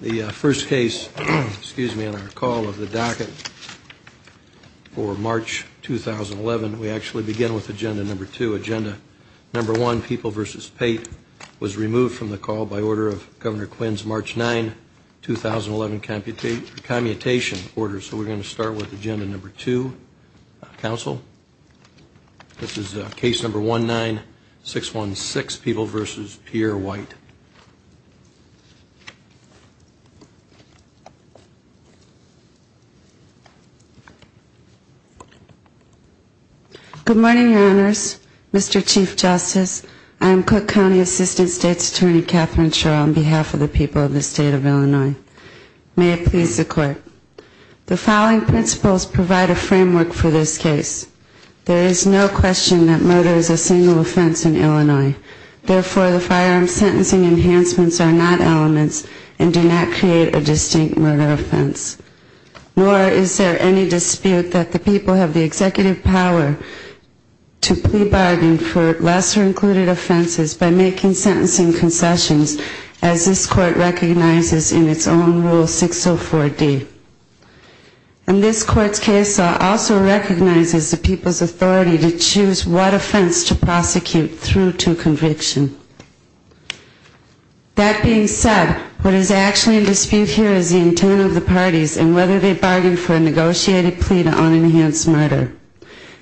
The first case, excuse me, on our call of the docket for March 2011, we actually begin with Agenda Number 2. Agenda Number 1, People v. Pate, was removed from the call by order of Governor Quinn's March 9, 2011 commutation order, so we're going to start with Agenda Number 2, Council. This is Case Number 1-9-616, People v. Pierre White. Good morning, Your Honors. Mr. Chief Justice, I am Cook County Assistant State's Attorney Kathryn Schor, on behalf of the people of the State of Illinois. May it please the Court. The following principles provide a framework for this case. There is no question that murder is a single offense in Illinois. Therefore, the firearm sentencing enhancements are not elements and do not create a distinct murder offense. Nor is there any dispute that the people have the executive power to plea bargain for lesser-included offenses by making sentencing concessions, as this Court recognizes in its own Rule 604D. In this Court's case law also recognizes the people's authority to choose what offense to prosecute through to conviction. That being said, what is actually in dispute here is the intent of the parties and whether they bargained for a negotiated plea to unenhanced murder.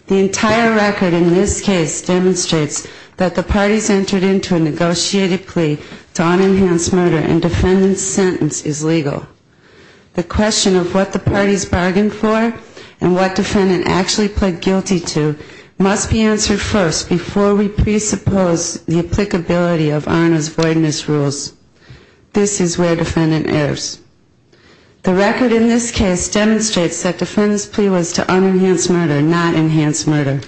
The entire record in this case demonstrates that the parties entered into a negotiated plea to unenhanced murder and defendant's sentence is legal. The question of what the parties bargained for and what defendant actually pled guilty to must be answered first before we presuppose the applicability of ARNA's voidness rules. This is where defendant errs. The record in this case demonstrates that defendant's plea was to unenhanced murder, not enhanced murder.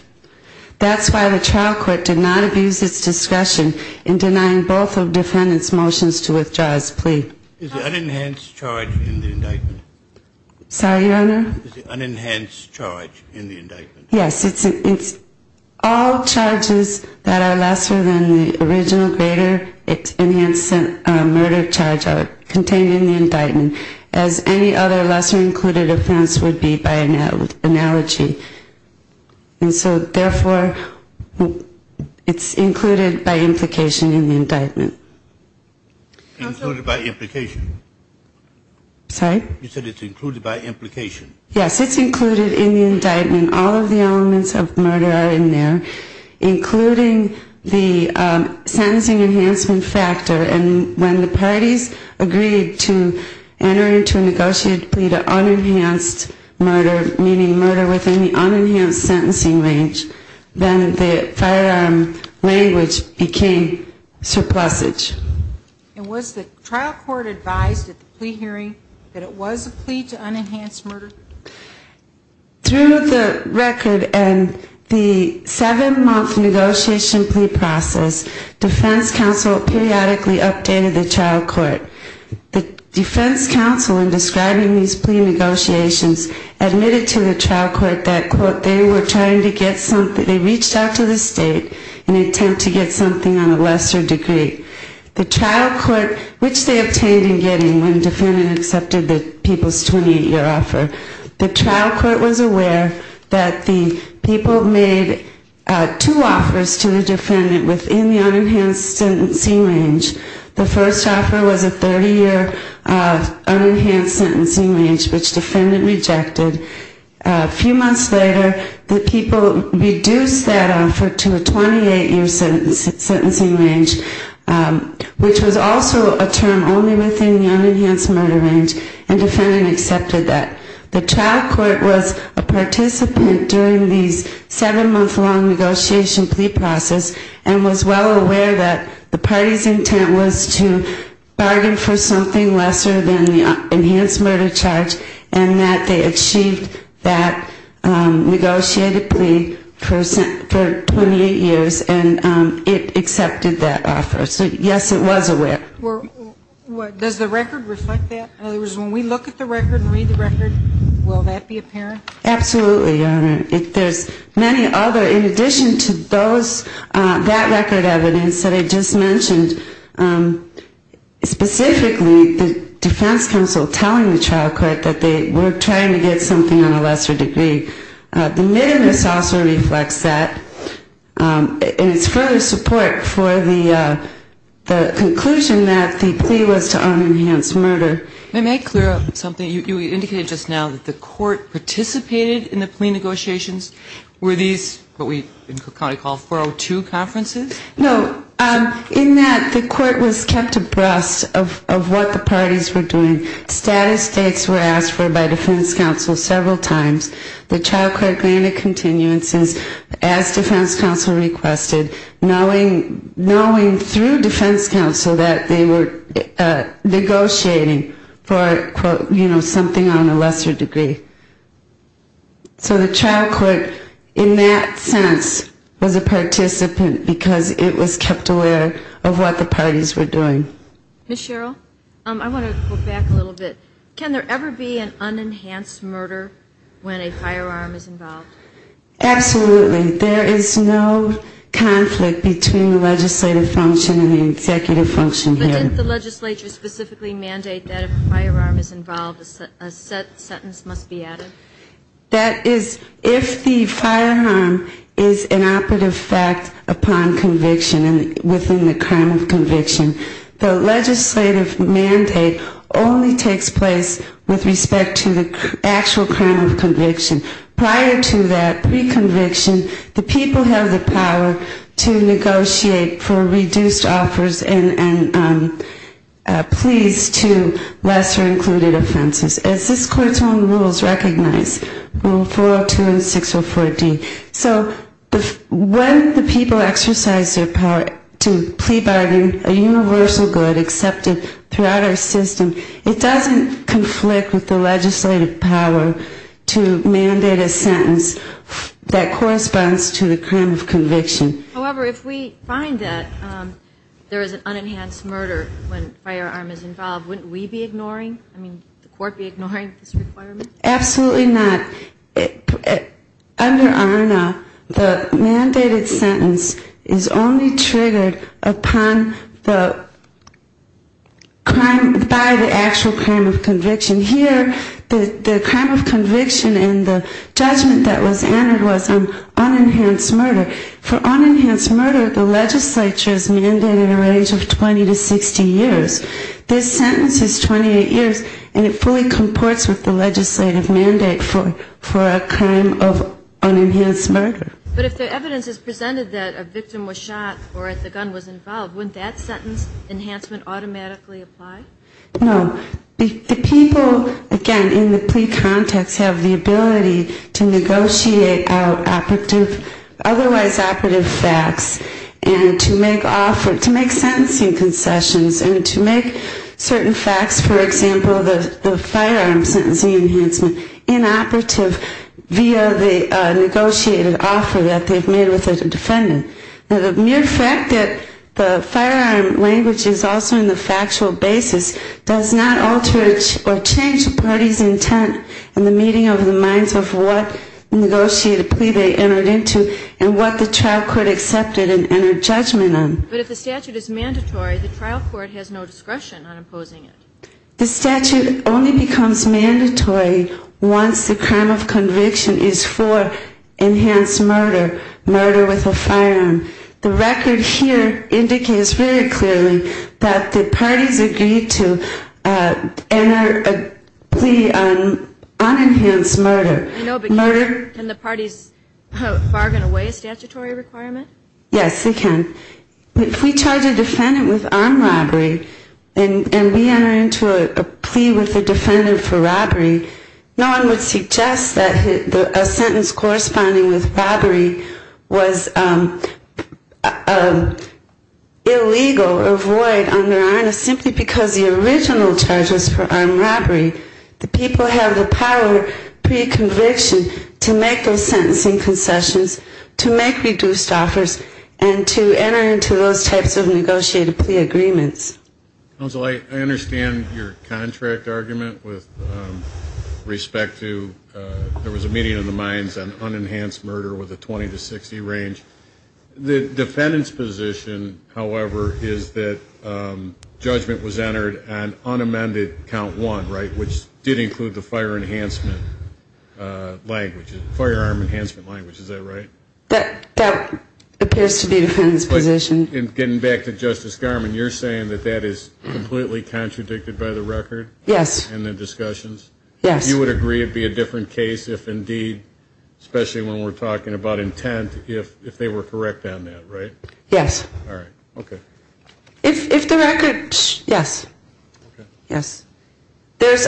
That's why the trial court did not abuse its discretion in denying both of defendant's motions to withdraw its plea. Is the unenhanced charge in the indictment? Sorry, Your Honor? Is the unenhanced charge in the indictment? Yes, it's all charges that are lesser than the original greater enhanced murder charge contained in the indictment, as any other lesser included offense would be by analogy. And so, therefore, it's included by implication in the indictment. Included by implication? Sorry? You said it's included by implication. Yes, it's included in the indictment. All of the elements of murder are in there, including the sentencing enhancement factor. And when the parties agreed to enter into a negotiated plea to unenhanced murder, meaning murder within the unenhanced sentencing range, then the firearm language became surplusage. And was the trial court advised at the plea hearing that it was a plea to unenhanced murder? Through the record and the seven-month negotiation plea process, defense counsel periodically updated the trial court. The defense counsel, in describing these plea negotiations, admitted to the trial court that, quote, they were trying to get something, they reached out to the state in an attempt to get something on a lesser degree. The trial court, which they obtained in getting when the defendant accepted the people's 28-year offer, the trial court was aware that the people made two offers to the defendant within the unenhanced sentencing range. The first offer was a 30-year unenhanced sentencing range, which the defendant rejected. A few months later, the people reduced that offer to a 28-year sentencing range, which was also a term only within the unenhanced murder range, and the defendant accepted that. The trial court was a participant during these seven-month long negotiation plea process, and was well aware that the party's intent was to bargain for something lesser than the enhanced murder charge, and that they achieved that negotiated plea for 28 years, and it accepted that offer. So, yes, it was aware. Does the record reflect that? In other words, when we look at the record and read the record, will that be apparent? Absolutely, Your Honor. There's many other, in addition to that record evidence that I just mentioned, specifically the defense counsel telling the trial court that they were trying to get something on a lesser degree. The minimus also reflects that, and it's further support for the conclusion that the plea was to unenhanced murder. May I clear up something? You indicated just now that the court participated in the plea negotiations. Were these what we call 402 conferences? No. In that, the court was kept abreast of what the parties were doing. Status takes were asked for by defense counsel several times. The trial court granted continuances as defense counsel requested, knowing through defense counsel that they were negotiating for, you know, something on a lesser degree. So the trial court, in that sense, was a participant because it was kept aware of what the parties were doing. Ms. Sherrill, I want to go back a little bit. Can there ever be an unenhanced murder when a firearm is involved? Absolutely. There is no conflict between the legislative function and the executive function here. But didn't the legislature specifically mandate that if a firearm is involved, a sentence must be added? That is, if the firearm is an operative fact upon conviction and within the crime of conviction, the legislative mandate only takes place with respect to the actual crime of conviction. Prior to that, pre-conviction, the people have the power to negotiate for reduced offers and pleas to lesser included offenses, as this court's own rules recognize, Rule 402 and 604D. So when the people exercise their power to plea bargain a universal good accepted throughout our system, it doesn't conflict with the legislative power to mandate a sentence that corresponds to the crime of conviction. However, if we find that there is an unenhanced murder when a firearm is involved, wouldn't we be ignoring, I mean, the court be ignoring this requirement? Absolutely not. Under ARNA, the mandated sentence is only triggered upon the crime, by the actual crime of conviction. Here, the crime of conviction and the judgment that was entered was an unenhanced murder. For unenhanced murder, the legislature has mandated a range of 20 to 60 years. This sentence is 28 years, and it fully comports with the legislative mandate for a crime of unenhanced murder. But if the evidence is presented that a victim was shot or that the gun was involved, wouldn't that sentence enhancement automatically apply? No. The people, again, in the plea context have the ability to negotiate out otherwise operative facts and to make sentencing concessions and to make certain facts, for example, the firearm sentencing enhancement, inoperative via the negotiated offer that they've made with a defendant. Now, the mere fact that the firearm language is also in the factual basis does not alter or change a party's intent in the meeting of the minds of what negotiated plea they entered into and what the trial court accepted and entered judgment on. But if the statute is mandatory, the trial court has no discretion on imposing it. The statute only becomes mandatory once the crime of conviction is for enhanced murder, murder with a firearm. The record here indicates very clearly that the parties agreed to enter a plea on unenhanced murder. You know, but can the parties bargain away a statutory requirement? Yes, they can. If we charge a defendant with armed robbery and we enter into a plea with a defendant for robbery, no one would suggest that a sentence corresponding with robbery was illegal or void under ARNAS simply because the original charge was for armed robbery. The people have the power pre-conviction to make those sentencing concessions, to make reduced offers, and to enter into those types of negotiated plea agreements. Counsel, I understand your contract argument with respect to there was a meeting of the minds on unenhanced murder with a 20 to 60 range. The defendant's position, however, is that judgment was entered on unamended count one, right, which did include the firearm enhancement language. Is that right? That appears to be the defendant's position. And getting back to Justice Garmon, you're saying that that is completely contradicted by the record? Yes. And the discussions? Yes. You would agree it would be a different case if indeed, especially when we're talking about intent, if they were correct on that, right? Yes. All right. Okay. If the record, yes. Okay. Yes. There's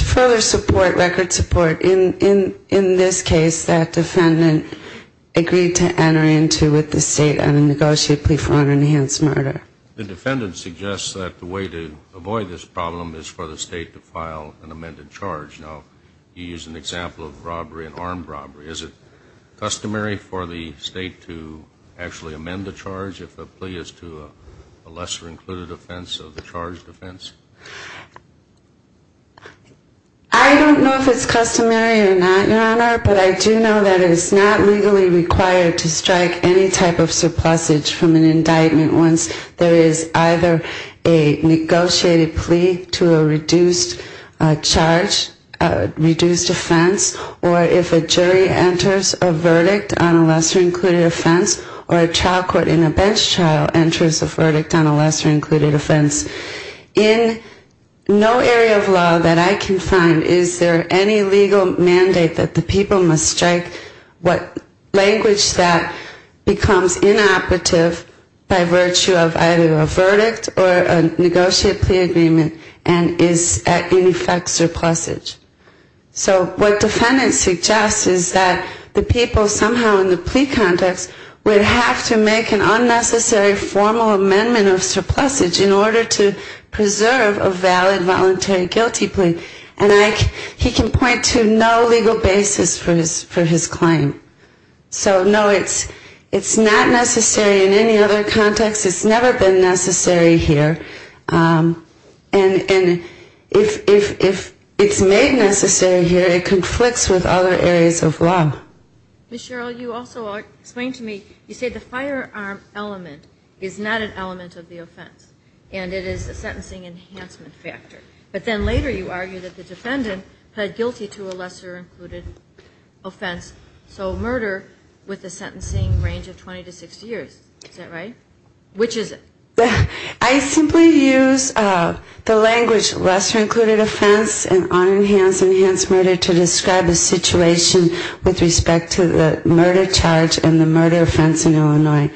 further support, record support, in this case that defendant agreed to enter into with the state on a negotiated plea for unenhanced murder. The defendant suggests that the way to avoid this problem is for the state to file an amended charge. Now, you used an example of robbery, an armed robbery. Is it customary for the state to actually amend the charge if the plea is to a lesser included offense of the charged offense? I don't know if it's customary or not, Your Honor, but I do know that it is not legally required to strike any type of surplusage from an indictment once there is either a negotiated plea to a reduced charge, reduced offense, or if a jury enters a verdict on a lesser included offense, or a trial court in a bench trial enters a verdict on a lesser included offense. In no area of law that I can find is there any legal mandate that the people must strike language that becomes inoperative by virtue of either a verdict or a negotiated plea agreement and is in effect surplusage. So what defendant suggests is that the people somehow in the plea context would have to make an unnecessary formal amendment of surplusage in order to preserve a valid voluntary guilty plea, and he can point to no legal basis for his claim. So, no, it's not necessary in any other context. It's never been necessary here. And if it's made necessary here, it conflicts with other areas of law. Ms. Sherrill, you also explained to me, you said the firearm element is not an element of the offense, and it is a sentencing enhancement factor. But then later you argued that the defendant pled guilty to a lesser included offense, so murder with a sentencing range of 20 to 60 years. Is that right? Which is it? I simply use the language lesser included offense and unenhanced murder to describe the situation with respect to the murder charge and the murder offense in Illinois.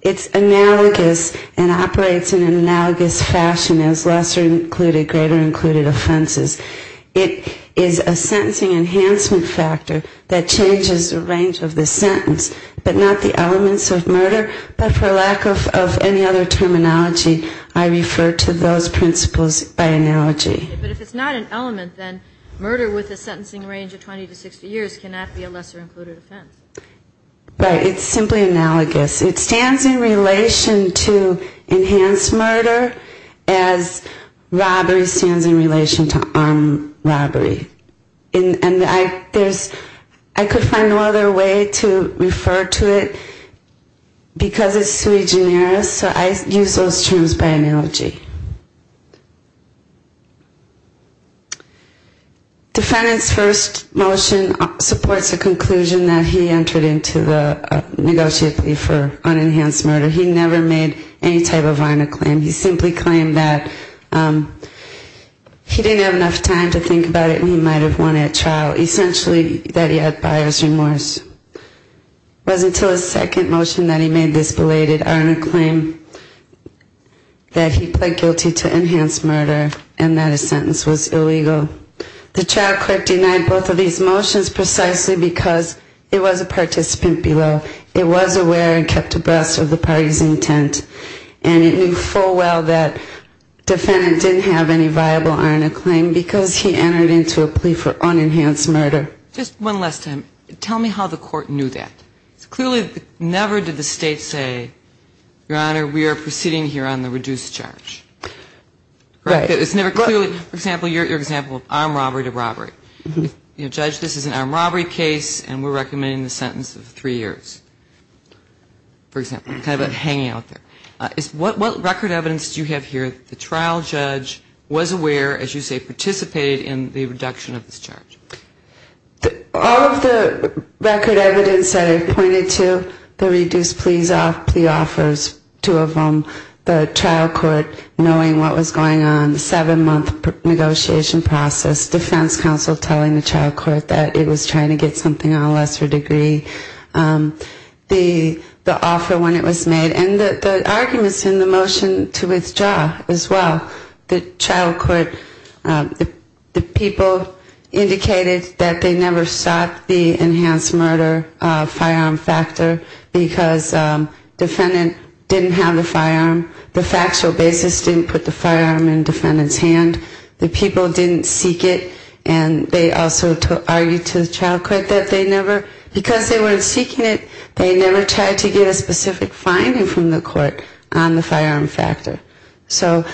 It's analogous and operates in an analogous fashion as lesser included, greater included offenses. It is a sentencing enhancement factor that changes the range of the sentence, but not the elements of murder, but for lack of any other terminology. By analogy, I refer to those principles by analogy. But if it's not an element, then murder with a sentencing range of 20 to 60 years cannot be a lesser included offense. Right. It's simply analogous. It stands in relation to enhanced murder as robbery stands in relation to armed robbery. And I could find no other way to refer to it because it's sui generis. So I use those terms by analogy. Defendant's first motion supports the conclusion that he entered into the negotiation for unenhanced murder. He never made any type of irony claim. He simply claimed that he didn't have enough time to think about it and he might have won at trial, essentially that he had buyer's remorse. It wasn't until his second motion that he made this belated irony claim that he pled guilty to enhanced murder and that his sentence was illegal. The trial court denied both of these motions precisely because it was a participant below. It was aware and kept abreast of the party's intent and it knew full well that defendant didn't have any viable irony claim because he entered into a plea for unenhanced murder. Just one last time. Tell me how the court knew that. Clearly never did the State say, Your Honor, we are proceeding here on the reduced charge. Right. For example, your example of armed robbery to robbery. You know, Judge, this is an armed robbery case and we're recommending the sentence of three years, for example. Kind of hanging out there. What record evidence do you have here that the trial judge was aware, as you say, participated in the reduction of this charge? All of the record evidence that I've pointed to, the reduced plea offers, two of them, the trial court knowing what was going on, the seven-month negotiation process, defense counsel telling the trial court that it was trying to get something on a lesser degree. The offer when it was made. And the arguments in the motion to withdraw as well. The trial court, the people indicated that they never sought the enhanced murder firearm factor because defendant didn't have the firearm. The factual basis didn't put the firearm in defendant's hand. The people didn't seek it and they also argued to the trial court that they never, because they weren't seeking it, they never tried to get a specific finding from the court on the firearm factor. So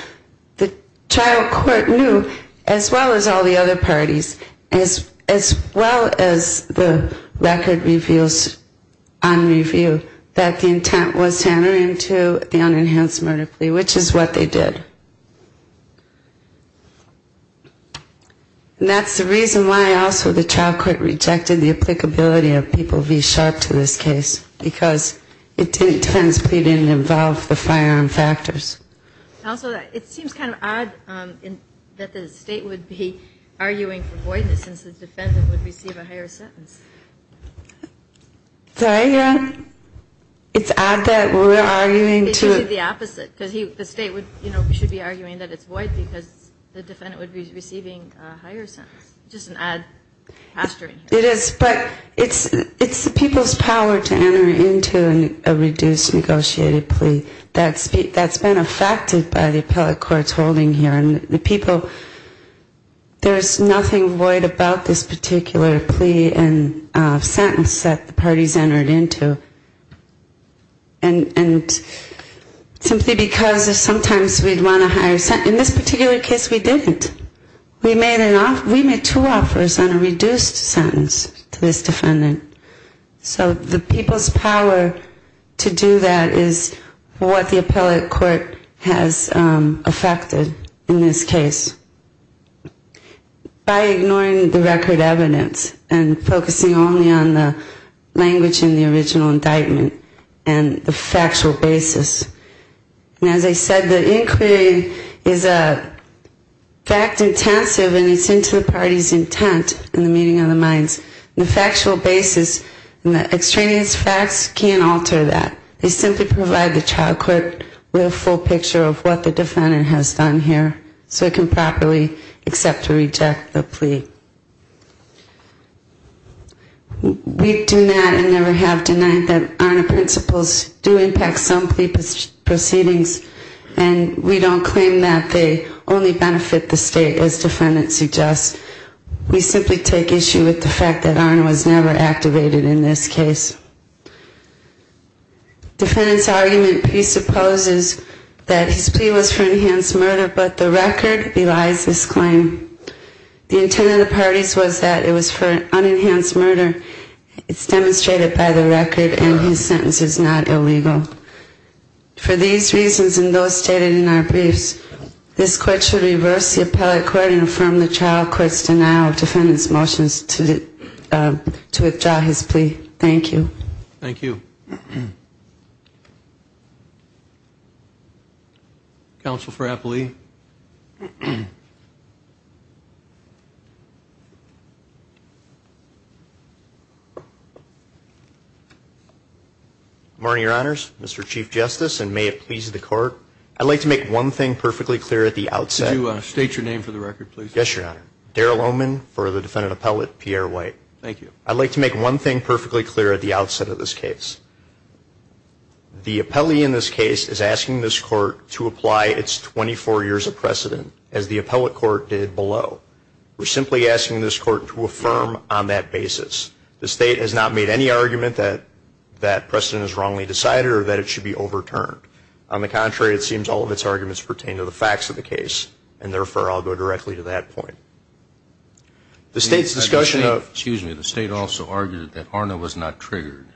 the trial court knew, as well as all the other parties, as well as the record reveals on review, that the intent was to enter into the case. And that's the reason why also the trial court rejected the applicability of people V-sharp to this case, because it didn't, defendant's plea didn't involve the firearm factors. Also, it seems kind of odd that the state would be arguing for voidness since the defendant would receive a higher sentence. It's odd that we're arguing to It's usually the opposite. Because the state should be arguing that it's void because the defendant would be receiving a higher sentence. It's the people's power to enter into a reduced negotiated plea. That's been affected by the appellate court's holding here. And the people, there's nothing void about this particular plea and sentence that the parties entered into. And simply because sometimes we'd want a higher sentence. In this particular case we didn't. We made two offers on a reduced sentence to this defendant. So the people's power to do that is what the appellate court has affected in this particular case. By ignoring the record evidence and focusing only on the language in the original indictment and the factual basis. And as I said, the inquiry is fact intensive and it's into the party's intent and the meaning of the minds. The factual basis and the extraneous facts can't alter that. They simply provide the trial court with a full picture of what the defendant has done here. So it can properly accept or reject the plea. We do not and never have denied that ARNA principles do impact some plea proceedings. And we don't claim that they only benefit the state as defendants suggest. We simply take issue with the fact that ARNA was never activated in this case. Defendant's argument presupposes that his plea was for enhanced murder, but the record belies this claim. The intent of the parties was that it was for unenhanced murder. It's demonstrated by the record and his sentence is not illegal. For these reasons and those stated in our briefs, this court should reverse the appellate court and affirm the trial court's denial of defendant's motions to withdraw his plea. Thank you. Counsel for Appellee. Good morning, Your Honors. Mr. Chief Justice, and may it please the court, I'd like to make one thing perfectly clear at the outset. Could you state your name for the record, please? Yes, Your Honor. Darrell Oman for the defendant appellate, Pierre White. Thank you. I'd like to make one thing perfectly clear at the outset of this case. The appellee in this case is asking this court to apply its 24 years of precedent as the appellate court did below. We're simply asking this court to affirm on that basis. The state has not made any argument that precedent is wrongly decided or that it should be overturned. On the contrary, it seems all of its arguments pertain to the facts of the case. And therefore, I'll go directly to that point. Excuse me. The state also argued that ARNA was not triggered.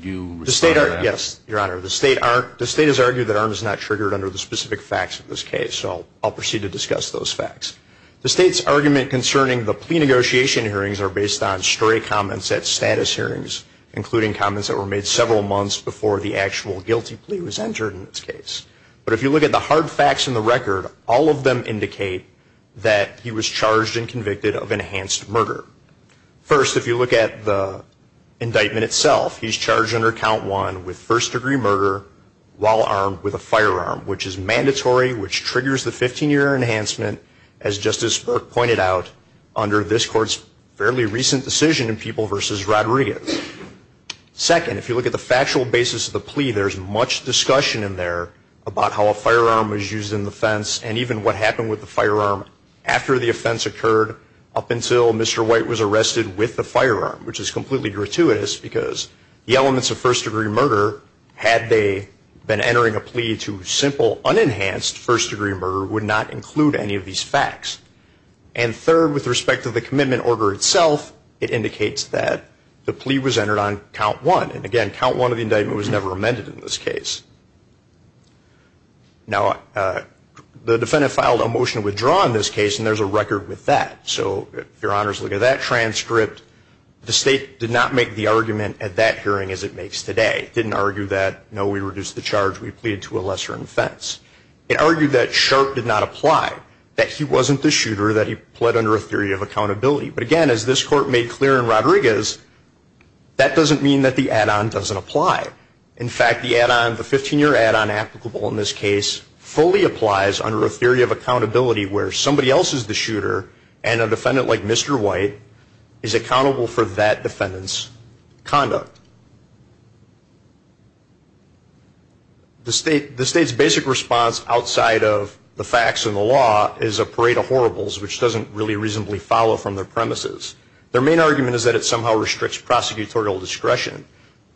Yes, Your Honor. The state has argued that ARNA is not triggered under the specific facts of this case. So I'll proceed to discuss those facts. The state's argument concerning the plea negotiation hearings are based on stray comments at status hearings, including comments that were made several months before the actual guilty plea was entered in this case. But if you look at the hard facts in the record, all of them indicate that he was charged and convicted of enhanced murder. First, if you look at the indictment itself, he's charged under Count 1 with first-degree murder, while armed with a firearm, which is mandatory, which triggers the 15-year enhancement, as Justice Burke pointed out, under this Court's fairly recent decision in People v. Rodriguez. Second, if you look at the factual basis of the plea, there's much discussion in there about how a firearm was used in the offense and even what happened with the firearm after the offense occurred up until Mr. White was arrested with the firearm, which is completely gratuitous because the elements of first-degree murder, had they been entering a plea to simple, unenhanced first-degree murder, would not include any of these facts. And third, with respect to the commitment order itself, it indicates that the plea was entered on Count 1. And again, Count 1 of the indictment was never amended in this case. Now, the defendant filed a motion to withdraw in this case, and there's a record with that. So if Your Honors look at that transcript, the State did not make the argument at that hearing as it makes today. It didn't argue that, no, we reduced the charge, we plead to a lesser offense. It argued that Sharp did not apply, that he wasn't the shooter, that he pled under a theory of accountability. But again, as this Court made clear in Rodriguez, that doesn't mean that the add-on doesn't apply. In fact, the add-on, the 15-year add-on applicable in this case, fully applies under a theory of accountability where somebody else is the shooter, and a defendant like Mr. White is accountable for that defendant's conduct. The State's basic response outside of the facts and the law is a parade of horribles, which doesn't really reasonably follow from their premises. Their main argument is that it somehow restricts prosecutorial discretion.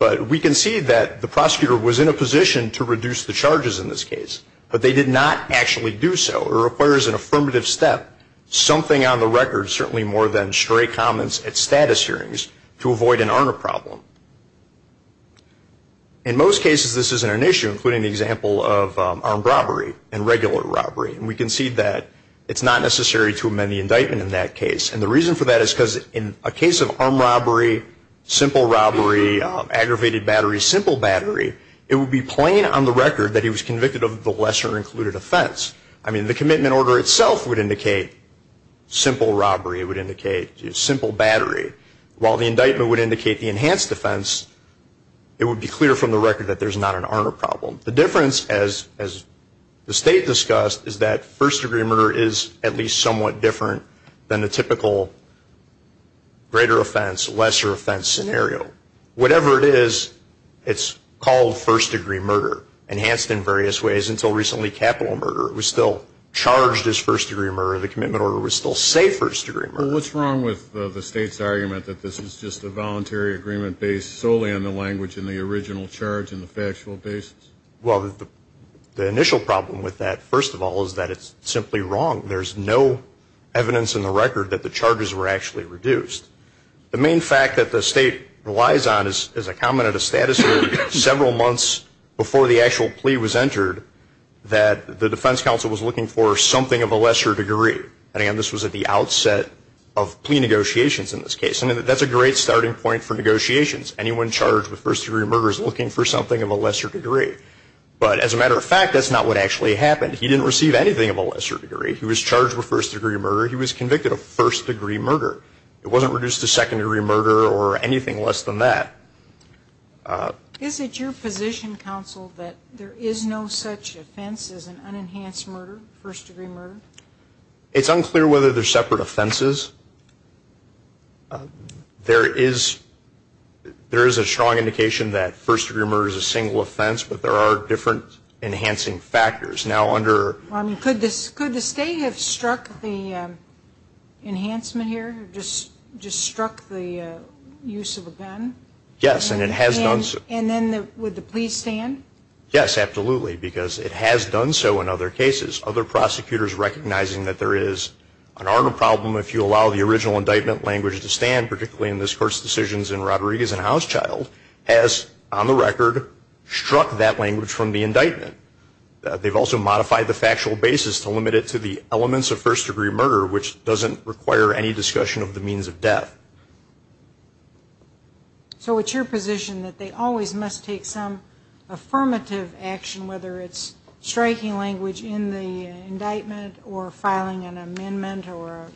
But we can see that the prosecutor was in a position to reduce the charges in this case, but they did not actually do so. It requires an affirmative step, something on the record, certainly more than straight comments at status hearings, to avoid an honor problem. In most cases, this isn't an issue, including the example of armed robbery and regular robbery. And we can see that it's not necessary to amend the indictment in that case. And the reason for that is because in a case of armed robbery, simple robbery, aggravated battery, simple battery, it would be plain on the record that he was convicted of the lesser included offense. I mean, the commitment order itself would indicate simple robbery, it would indicate simple battery. While the indictment would indicate the enhanced offense, it would be clear from the record that there's not an honor problem. The difference, as the State discussed, is that first degree murder is at least somewhat different than the typical greater offense, lesser offense scenario. Whatever it is, it's called first degree murder, enhanced in various ways until recently capital murder. It was still charged as first degree murder. The commitment order would still say first degree murder. Well, what's wrong with the State's argument that this is just a voluntary agreement based solely on the language and the original charge and the factual basis? Well, the initial problem with that, first of all, is that it's simply wrong. There's no evidence in the record that the charges were actually reduced. The main fact that the State relies on is a comment of the status of several months before the actual plea was entered that the defense counsel was looking for something of a lesser degree. And again, this was at the outset of plea negotiations in this case, and that's a great starting point for negotiations. Anyone charged with first degree murder is looking for something of a lesser degree. But as a matter of fact, that's not what actually happened. He didn't receive anything of a lesser degree. He was charged with first degree murder. He was convicted of first degree murder. It wasn't reduced to second degree murder or anything less than that. Is it your position, counsel, that there is no such offense as an unenhanced murder, first degree murder? It's unclear whether they're separate offenses. There is a strong indication that first degree murder is a single offense, but there are different enhancing factors. Could the State have struck the enhancement here, just struck the use of a pen? Yes, and it has done so. And then would the plea stand? Yes, absolutely, because it has done so in other cases. Other prosecutors recognizing that there is an art of problem if you allow the original indictment language to stand, particularly in this Court's decisions in Rodriguez and Hauschild, has, on the record, struck that language from the indictment. They've also modified the factual basis to limit it to the elements of first degree murder, which doesn't require any discussion of the means of death. So it's your position that they always must take some affirmative action, whether it's striking language in the indictment or filing an amendment or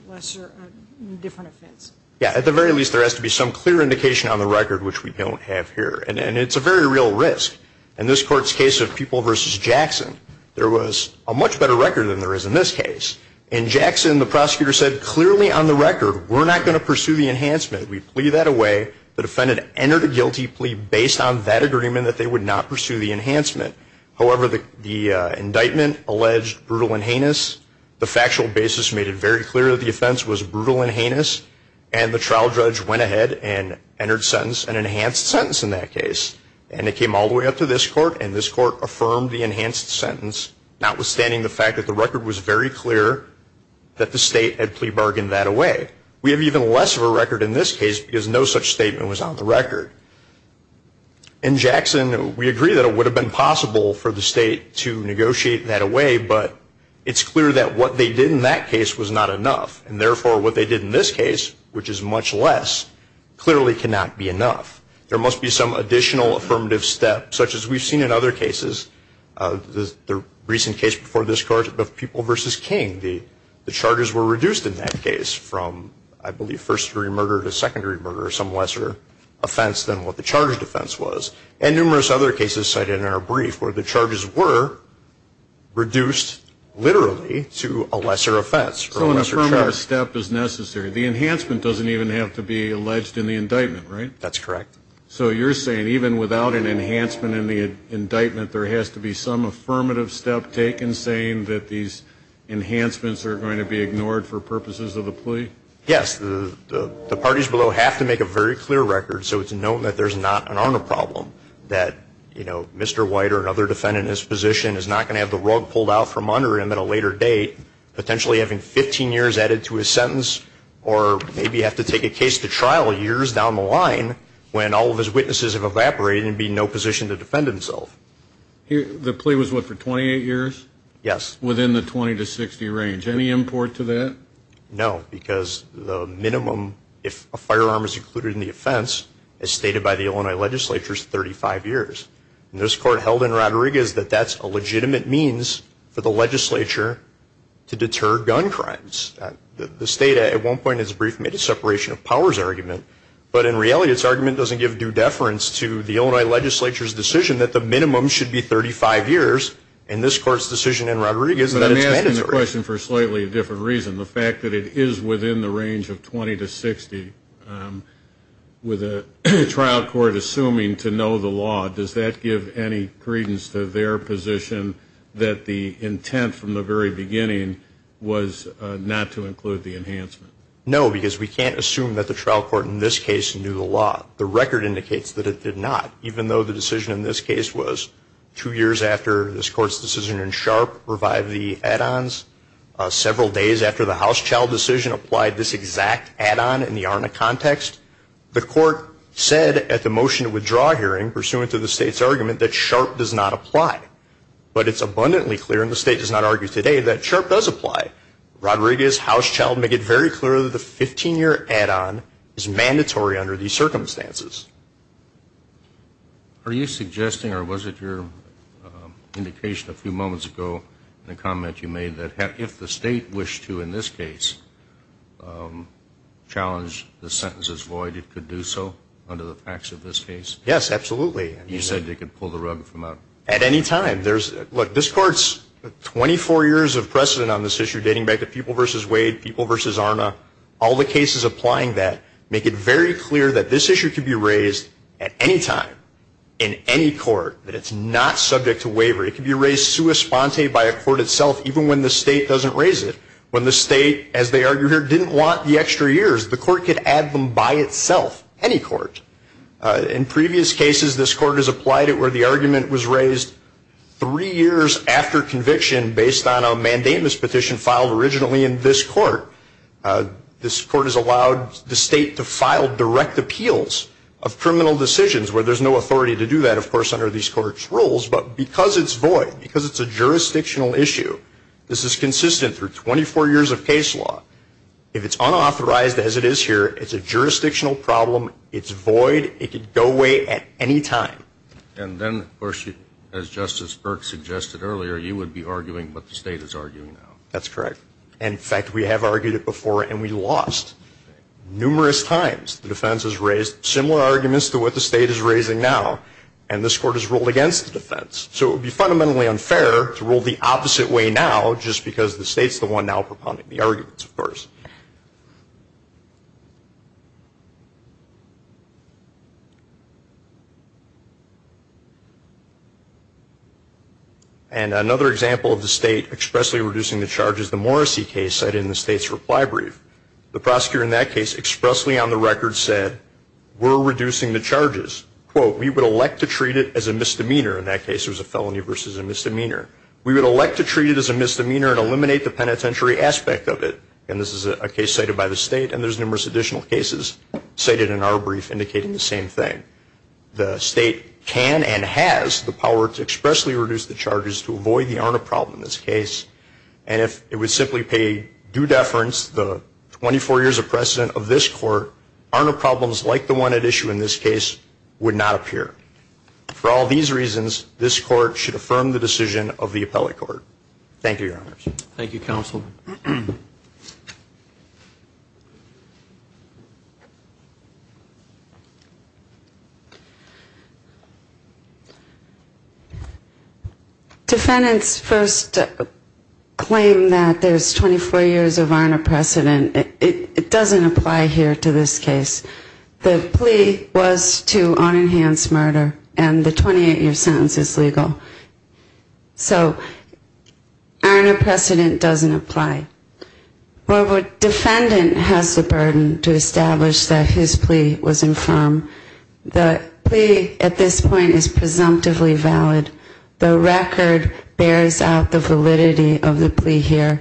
different offense? Yes, at the very least, there has to be some clear indication on the record, which we don't have here. And it's a very real risk. In this Court's case of People v. Jackson, there was a much better record than there is in this case. In Jackson, the prosecutor said, clearly on the record, we're not going to pursue the enhancement. We plea that away. The defendant entered a guilty plea based on that agreement that they would not pursue the enhancement. However, the indictment alleged brutal and heinous. The factual basis made it very clear that the offense was brutal and heinous, and the trial judge went ahead and entered an enhanced sentence in that case. And it came all the way up to this Court, and this Court affirmed the enhanced sentence, notwithstanding the fact that the record was very clear that the state had plea bargained that away. We have even less of a record in this case because no such statement was on the record. In Jackson, we agree that it would have been possible for the state to negotiate that away, but it's clear that what they did in that case was not enough. And therefore, what they did in this case, which is much less, clearly cannot be enough. There must be some additional affirmative step, such as we've seen in other cases. The recent case before this Court of People v. King, the charges were reduced in that case from, I believe, first-degree murder to secondary murder, some lesser offense than what the charged offense was. And numerous other cases cited in our brief where the charges were reduced literally to a lesser offense. So an affirmative step is necessary. The enhancement doesn't even have to be alleged in the indictment, right? That's correct. So you're saying even without an enhancement in the indictment, there has to be some affirmative step taken saying that these enhancements are going to be ignored for purposes of the plea? Yes. The parties below have to make a very clear record so it's known that there's not an honor problem, that Mr. White or another defendant in his position is not going to have the rug pulled out from under him at a later date, potentially having 15 years added to his sentence, or maybe have to take a case to trial years down the line when all of his witnesses have evaporated and be in no position to defend himself. The plea was, what, for 28 years? Yes. Within the 20 to 60 range. Any import to that? No, because the minimum, if a firearm is included in the offense, as stated by the Illinois legislature, is 35 years. And this Court held in Rodriguez that that's a legitimate means for the legislature to deter gun crimes. The state at one point made a separation of powers argument, but in reality its argument doesn't give due deference to the Illinois legislature's decision that the minimum should be 35 years, and this Court's decision in Rodriguez that it's mandatory. But I'm asking the question for a slightly different reason. The fact that it is within the range of 20 to 60, with a trial court assuming to know the law, does that give any credence to their position that the intent from the very beginning was not to include the enhancement? No, because we can't assume that the trial court in this case knew the law. The record indicates that it did not, even though the decision in this case was two years after this Court's decision in Sharp revived the add-ons, several days after the House trial decision applied this exact add-on in the ARNA context. The Court said at the motion to withdraw hearing, pursuant to the state's argument, that Sharp does not apply. But it's abundantly clear, and the state does not argue today, that Sharp does apply. Rodriguez, House, Child, make it very clear that the 15-year add-on is mandatory under these circumstances. Are you suggesting, or was it your indication a few moments ago in the comment you made, that if the state wished to, in this case, challenge the sentence as void, it could do so under the facts of this case? Yes, absolutely. You said it could pull the rug from out. At any time. Look, this Court's 24 years of precedent on this issue, dating back to People v. Wade, People v. ARNA, all the cases applying that make it very clear that this issue could be raised at any time, in any court, that it's not subject to waiver. It could be raised sua sponte by a court itself, even when the state doesn't raise it. When the state, as they argue here, didn't want the extra years, the court could add them by itself, any court. In previous cases, this Court has applied it where the argument was raised three years after conviction, based on a mandamus petition filed originally in this Court. This Court has allowed the state to file direct appeals of criminal decisions, where there's no authority to do that, of course, under these Court's rules. But because it's void, because it's a jurisdictional issue, this is consistent through 24 years of case law. If it's unauthorized, as it is here, it's a jurisdictional problem. It's void. It could go away at any time. And then, of course, as Justice Burke suggested earlier, you would be arguing what the state is arguing now. That's correct. In fact, we have argued it before, and we lost. Numerous times the defense has raised similar arguments to what the state is raising now, and this Court has ruled against the defense. So it would be fundamentally unfair to rule the opposite way now, just because the state's the one now propounding the arguments, of course. And another example of the state expressly reducing the charges, the Morrissey case cited in the state's reply brief. The prosecutor in that case expressly on the record said, we're reducing the charges. Quote, we would elect to treat it as a misdemeanor. In that case, it was a felony versus a misdemeanor. We would elect to treat it as a misdemeanor and eliminate the penitentiary aspect of it. And this is a case cited by the state, and there's numerous additional cases cited in our brief indicating the same thing. The state can and has the power to expressly reduce the charges to avoid the ARNA problem in this case. And if it would simply pay due deference, the 24 years of precedent of this Court, ARNA problems like the one at issue in this case would not appear. For all these reasons, this Court should affirm the decision of the appellate court. Thank you, Your Honors. Thank you, Counsel. Defendants first claim that there's 24 years of ARNA precedent. It doesn't apply here to this case. The plea was to unenhanced murder, and the 28-year sentence is legal. So ARNA precedent doesn't apply. However, defendant has the burden to establish that his plea was infirm. The plea at this point is presumptively valid. The record bears out the validity of the plea here.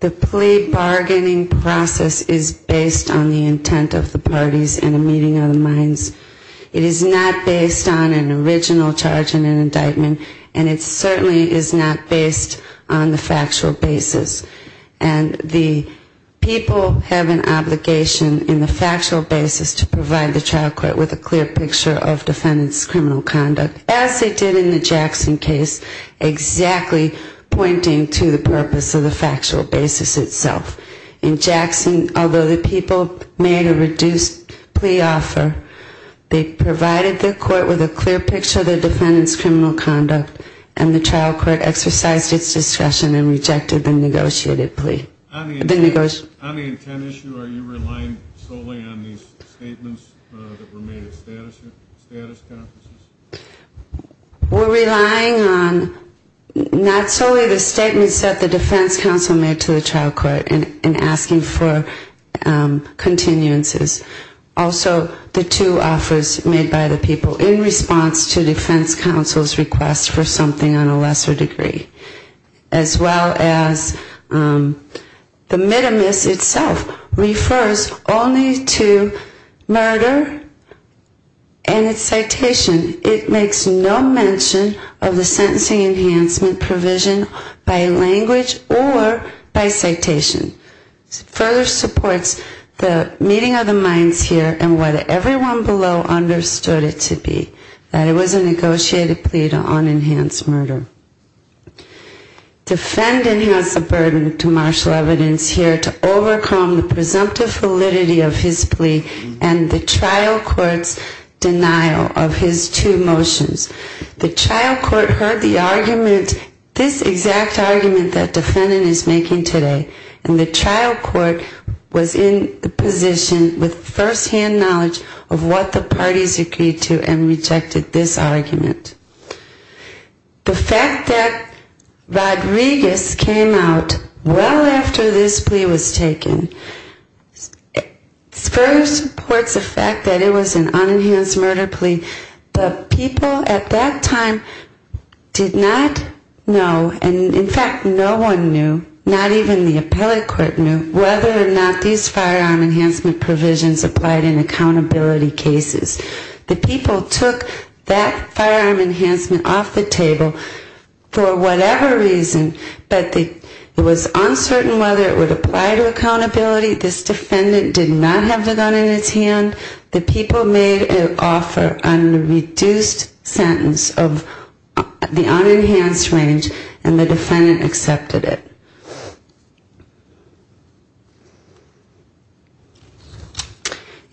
The plea bargaining process is based on the intent of the parties in a meeting of the minds. It is not based on an original charge in an indictment, and it certainly is not based on the factual basis. And the people have an obligation in the factual basis to provide the trial court with a clear picture of defendant's criminal conduct, as they did in the Jackson case, exactly pointing to the purpose of the factual basis itself. In Jackson, although the people made a reduced plea offer, they provided the court with a clear picture of the defendant's criminal conduct, and the trial court exercised its discretion and rejected the negotiated plea. On the intent issue, are you relying solely on these statements that were made at status conferences? We're relying on not solely the statements that the defense counsel made to the trial court in asking for continuances, also the two offers made by the people in response to defense counsel's request for something on a lesser degree, as well as the mitimus itself refers only to murder and its citation. It makes no mention of the sentencing enhancement provision by language or by citation. It further supports the meeting of the minds here and what everyone below understood it to be, that it was a negotiated plea to unenhanced murder. Defendant has the burden to marshal evidence here to overcome the presumptive validity of his plea and the trial court's denial of his two motions. The trial court heard the argument, this exact argument that defendant is making today, and the trial court was in the position with firsthand knowledge of what the parties agreed to and rejected. The fact that Rodriguez came out well after this plea was taken, further supports the fact that it was an unenhanced murder plea. The people at that time did not know, and in fact no one knew, not even the appellate court knew, whether or not these firearm enhancement provisions applied in accountability cases. The people took that firearm enhancement off the table for whatever reason, but it was uncertain whether it would apply to accountability. This defendant did not have the gun in his hand. The people made an offer on a reduced sentence of the unenhanced range and the defendant accepted it.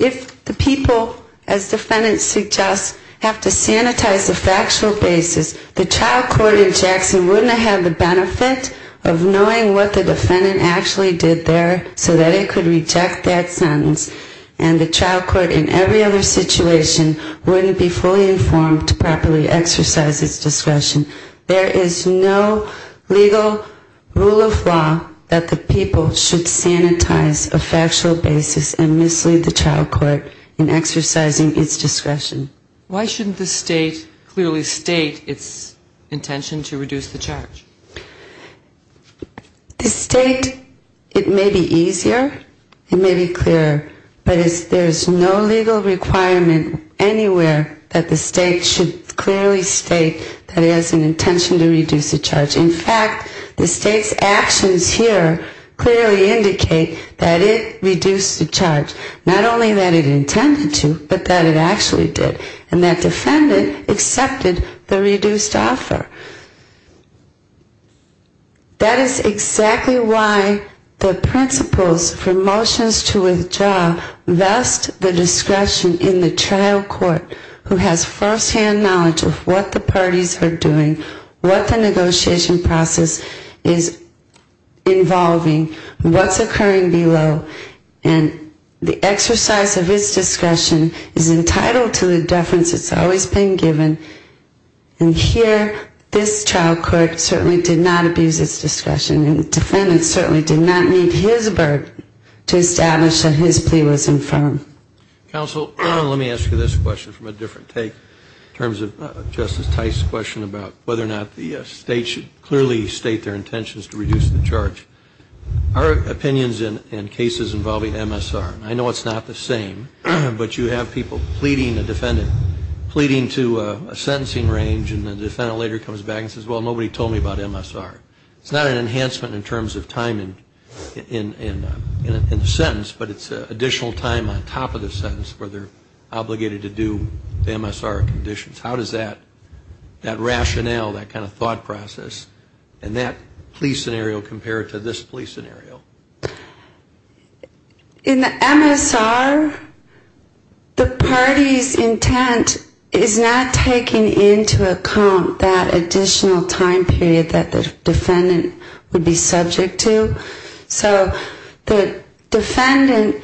This defendant suggests have to sanitize the factual basis. The trial court in Jackson wouldn't have the benefit of knowing what the defendant actually did there so that it could reject that sentence, and the trial court in every other situation wouldn't be fully informed to properly exercise its discretion. There is no legal rule of law that the people should sanitize a factual basis and mislead the trial court in exercising its discretion. Why shouldn't the state clearly state its intention to reduce the charge? The state, it may be easier, it may be clearer, but there's no legal requirement anywhere that the state should clearly state that it has an intention to reduce the charge. In fact, the state's actions here clearly indicate that it reduced the charge, not only that it intended to, but that it actually did. And that defendant accepted the reduced offer. That is exactly why the principles for motions to withdraw vest the discretion in the trial court who has firsthand knowledge of what the parties are doing, what the negotiation process is involving, what's occurring below, and the exercise of its discretion is entirely up to the parties. It's entitled to the deference that's always been given. And here, this trial court certainly did not abuse its discretion, and the defendant certainly did not need his burden to establish that his plea was infirm. Counsel, let me ask you this question from a different take in terms of Justice Tice's question about whether or not the state should clearly state their intentions to reduce the charge. Our opinions in cases involving MSR, and I know it's not the same, but you have people pleading a defendant, pleading to a sentencing range, and the defendant later comes back and says, well, nobody told me about MSR. It's not an enhancement in terms of time in the sentence, but it's additional time on top of the sentence where they're obligated to do MSR conditions. How does that rationale, that kind of thought process, and that plea scenario compare to the MSR? In the MSR, the party's intent is not taking into account that additional time period that the defendant would be subject to. So the defendant,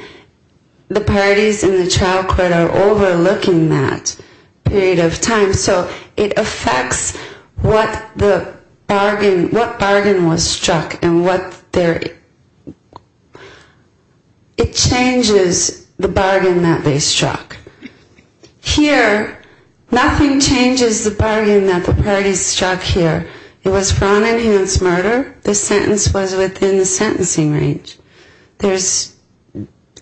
the parties in the trial court are overlooking that period of time, so it affects what the bargain, what bargain was struck and what the intent was. It changes the bargain that they struck. Here, nothing changes the bargain that the parties struck here. It was for unenhanced murder. The sentence was within the sentencing range. There's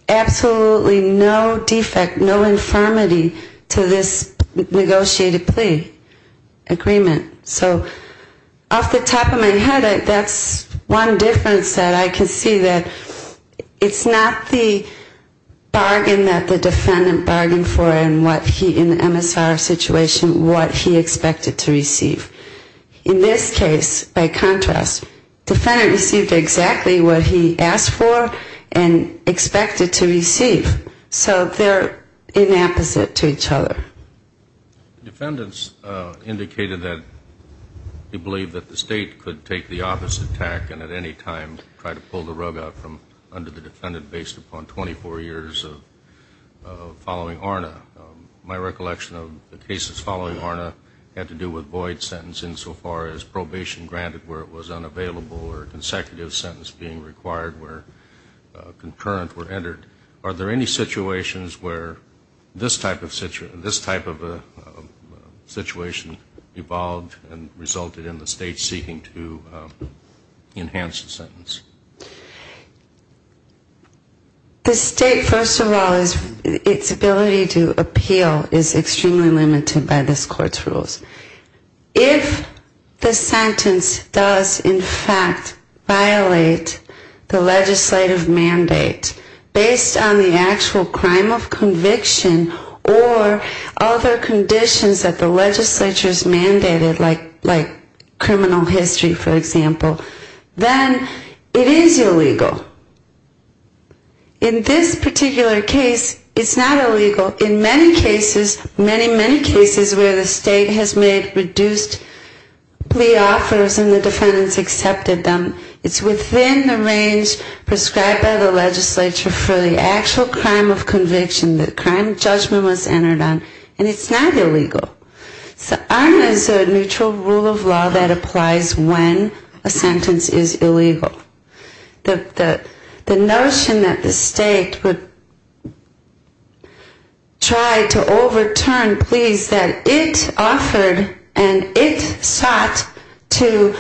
absolutely no defect, no infirmity to this negotiated plea agreement. So off the top of my head, that's one difference. The other difference that I can see that it's not the bargain that the defendant bargained for in the MSR situation, what he expected to receive. In this case, by contrast, the defendant received exactly what he asked for and expected to receive. So they're inapposite to each other. Defendants indicated that they believed that the State could take the office attack and at any time try to pull the rug out from under the defendant based upon 24 years of following ARNA. My recollection of the cases following ARNA had to do with void sentencing so far as probation granted where it was unavailable or consecutive sentence being required where concurrent were entered. Are there any situations where this type of situation evolved and resulted in the State seeking to enhance the sentence? The State, first of all, its ability to appeal is extremely limited by this Court's rules. If the sentence does, in fact, violate the legislative mandate, based on the fact that the State is seeking to enhance the sentence, then the State has a right to appeal. If the sentence is violated based on the actual crime of conviction or other conditions that the legislature has mandated, like criminal history, for example, then it is illegal. In this particular case, it's not illegal. In many cases, many, many cases where the State has made reduced plea offers and the defendants accepted them, it's within the range prescribed by the legislature for the act. So ARNA is a neutral rule of law that applies when a sentence is illegal. The notion that the State would try to overturn pleas that it offered and it sought to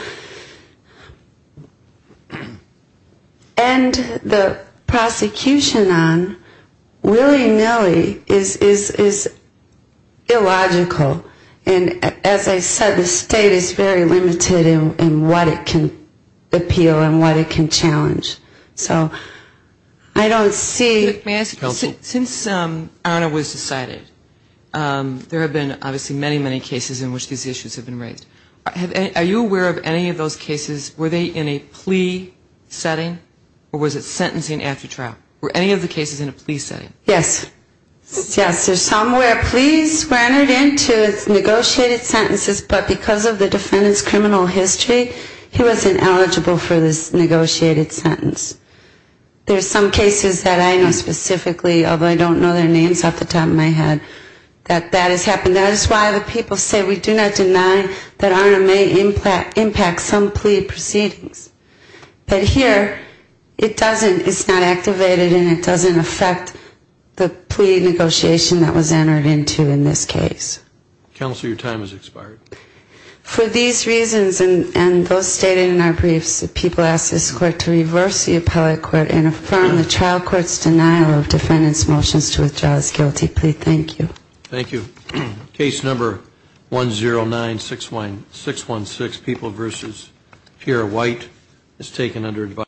end the prosecution on the basis of the fact that the State is seeking to enhance the sentence is not illegal. And as I said, the State is very limited in what it can appeal and what it can challenge. So I don't see... Since ARNA was decided, there have been obviously many, many cases in which these issues have been raised. Are you aware of any of those cases, were they in a plea setting or was it sentencing after trial? Were any of the cases in which these issues have been raised? Yes. Yes, there's some where pleas were entered into, it's negotiated sentences, but because of the defendant's criminal history, he wasn't eligible for this negotiated sentence. There's some cases that I know specifically, although I don't know their names off the top of my head, that that has happened. That is why the people say we do not deny that ARNA may impact some plea proceedings. But here, it doesn't, it's not activated and it doesn't affect any plea proceedings. It doesn't affect the plea negotiation that was entered into in this case. Counselor, your time has expired. For these reasons and those stated in our briefs, the people ask this court to reverse the appellate court and affirm the trial court's denial of defendant's motions to withdraw his guilty plea. Thank you. Thank you. Case number 109-616, People v. Pierre White, is taken under advisory.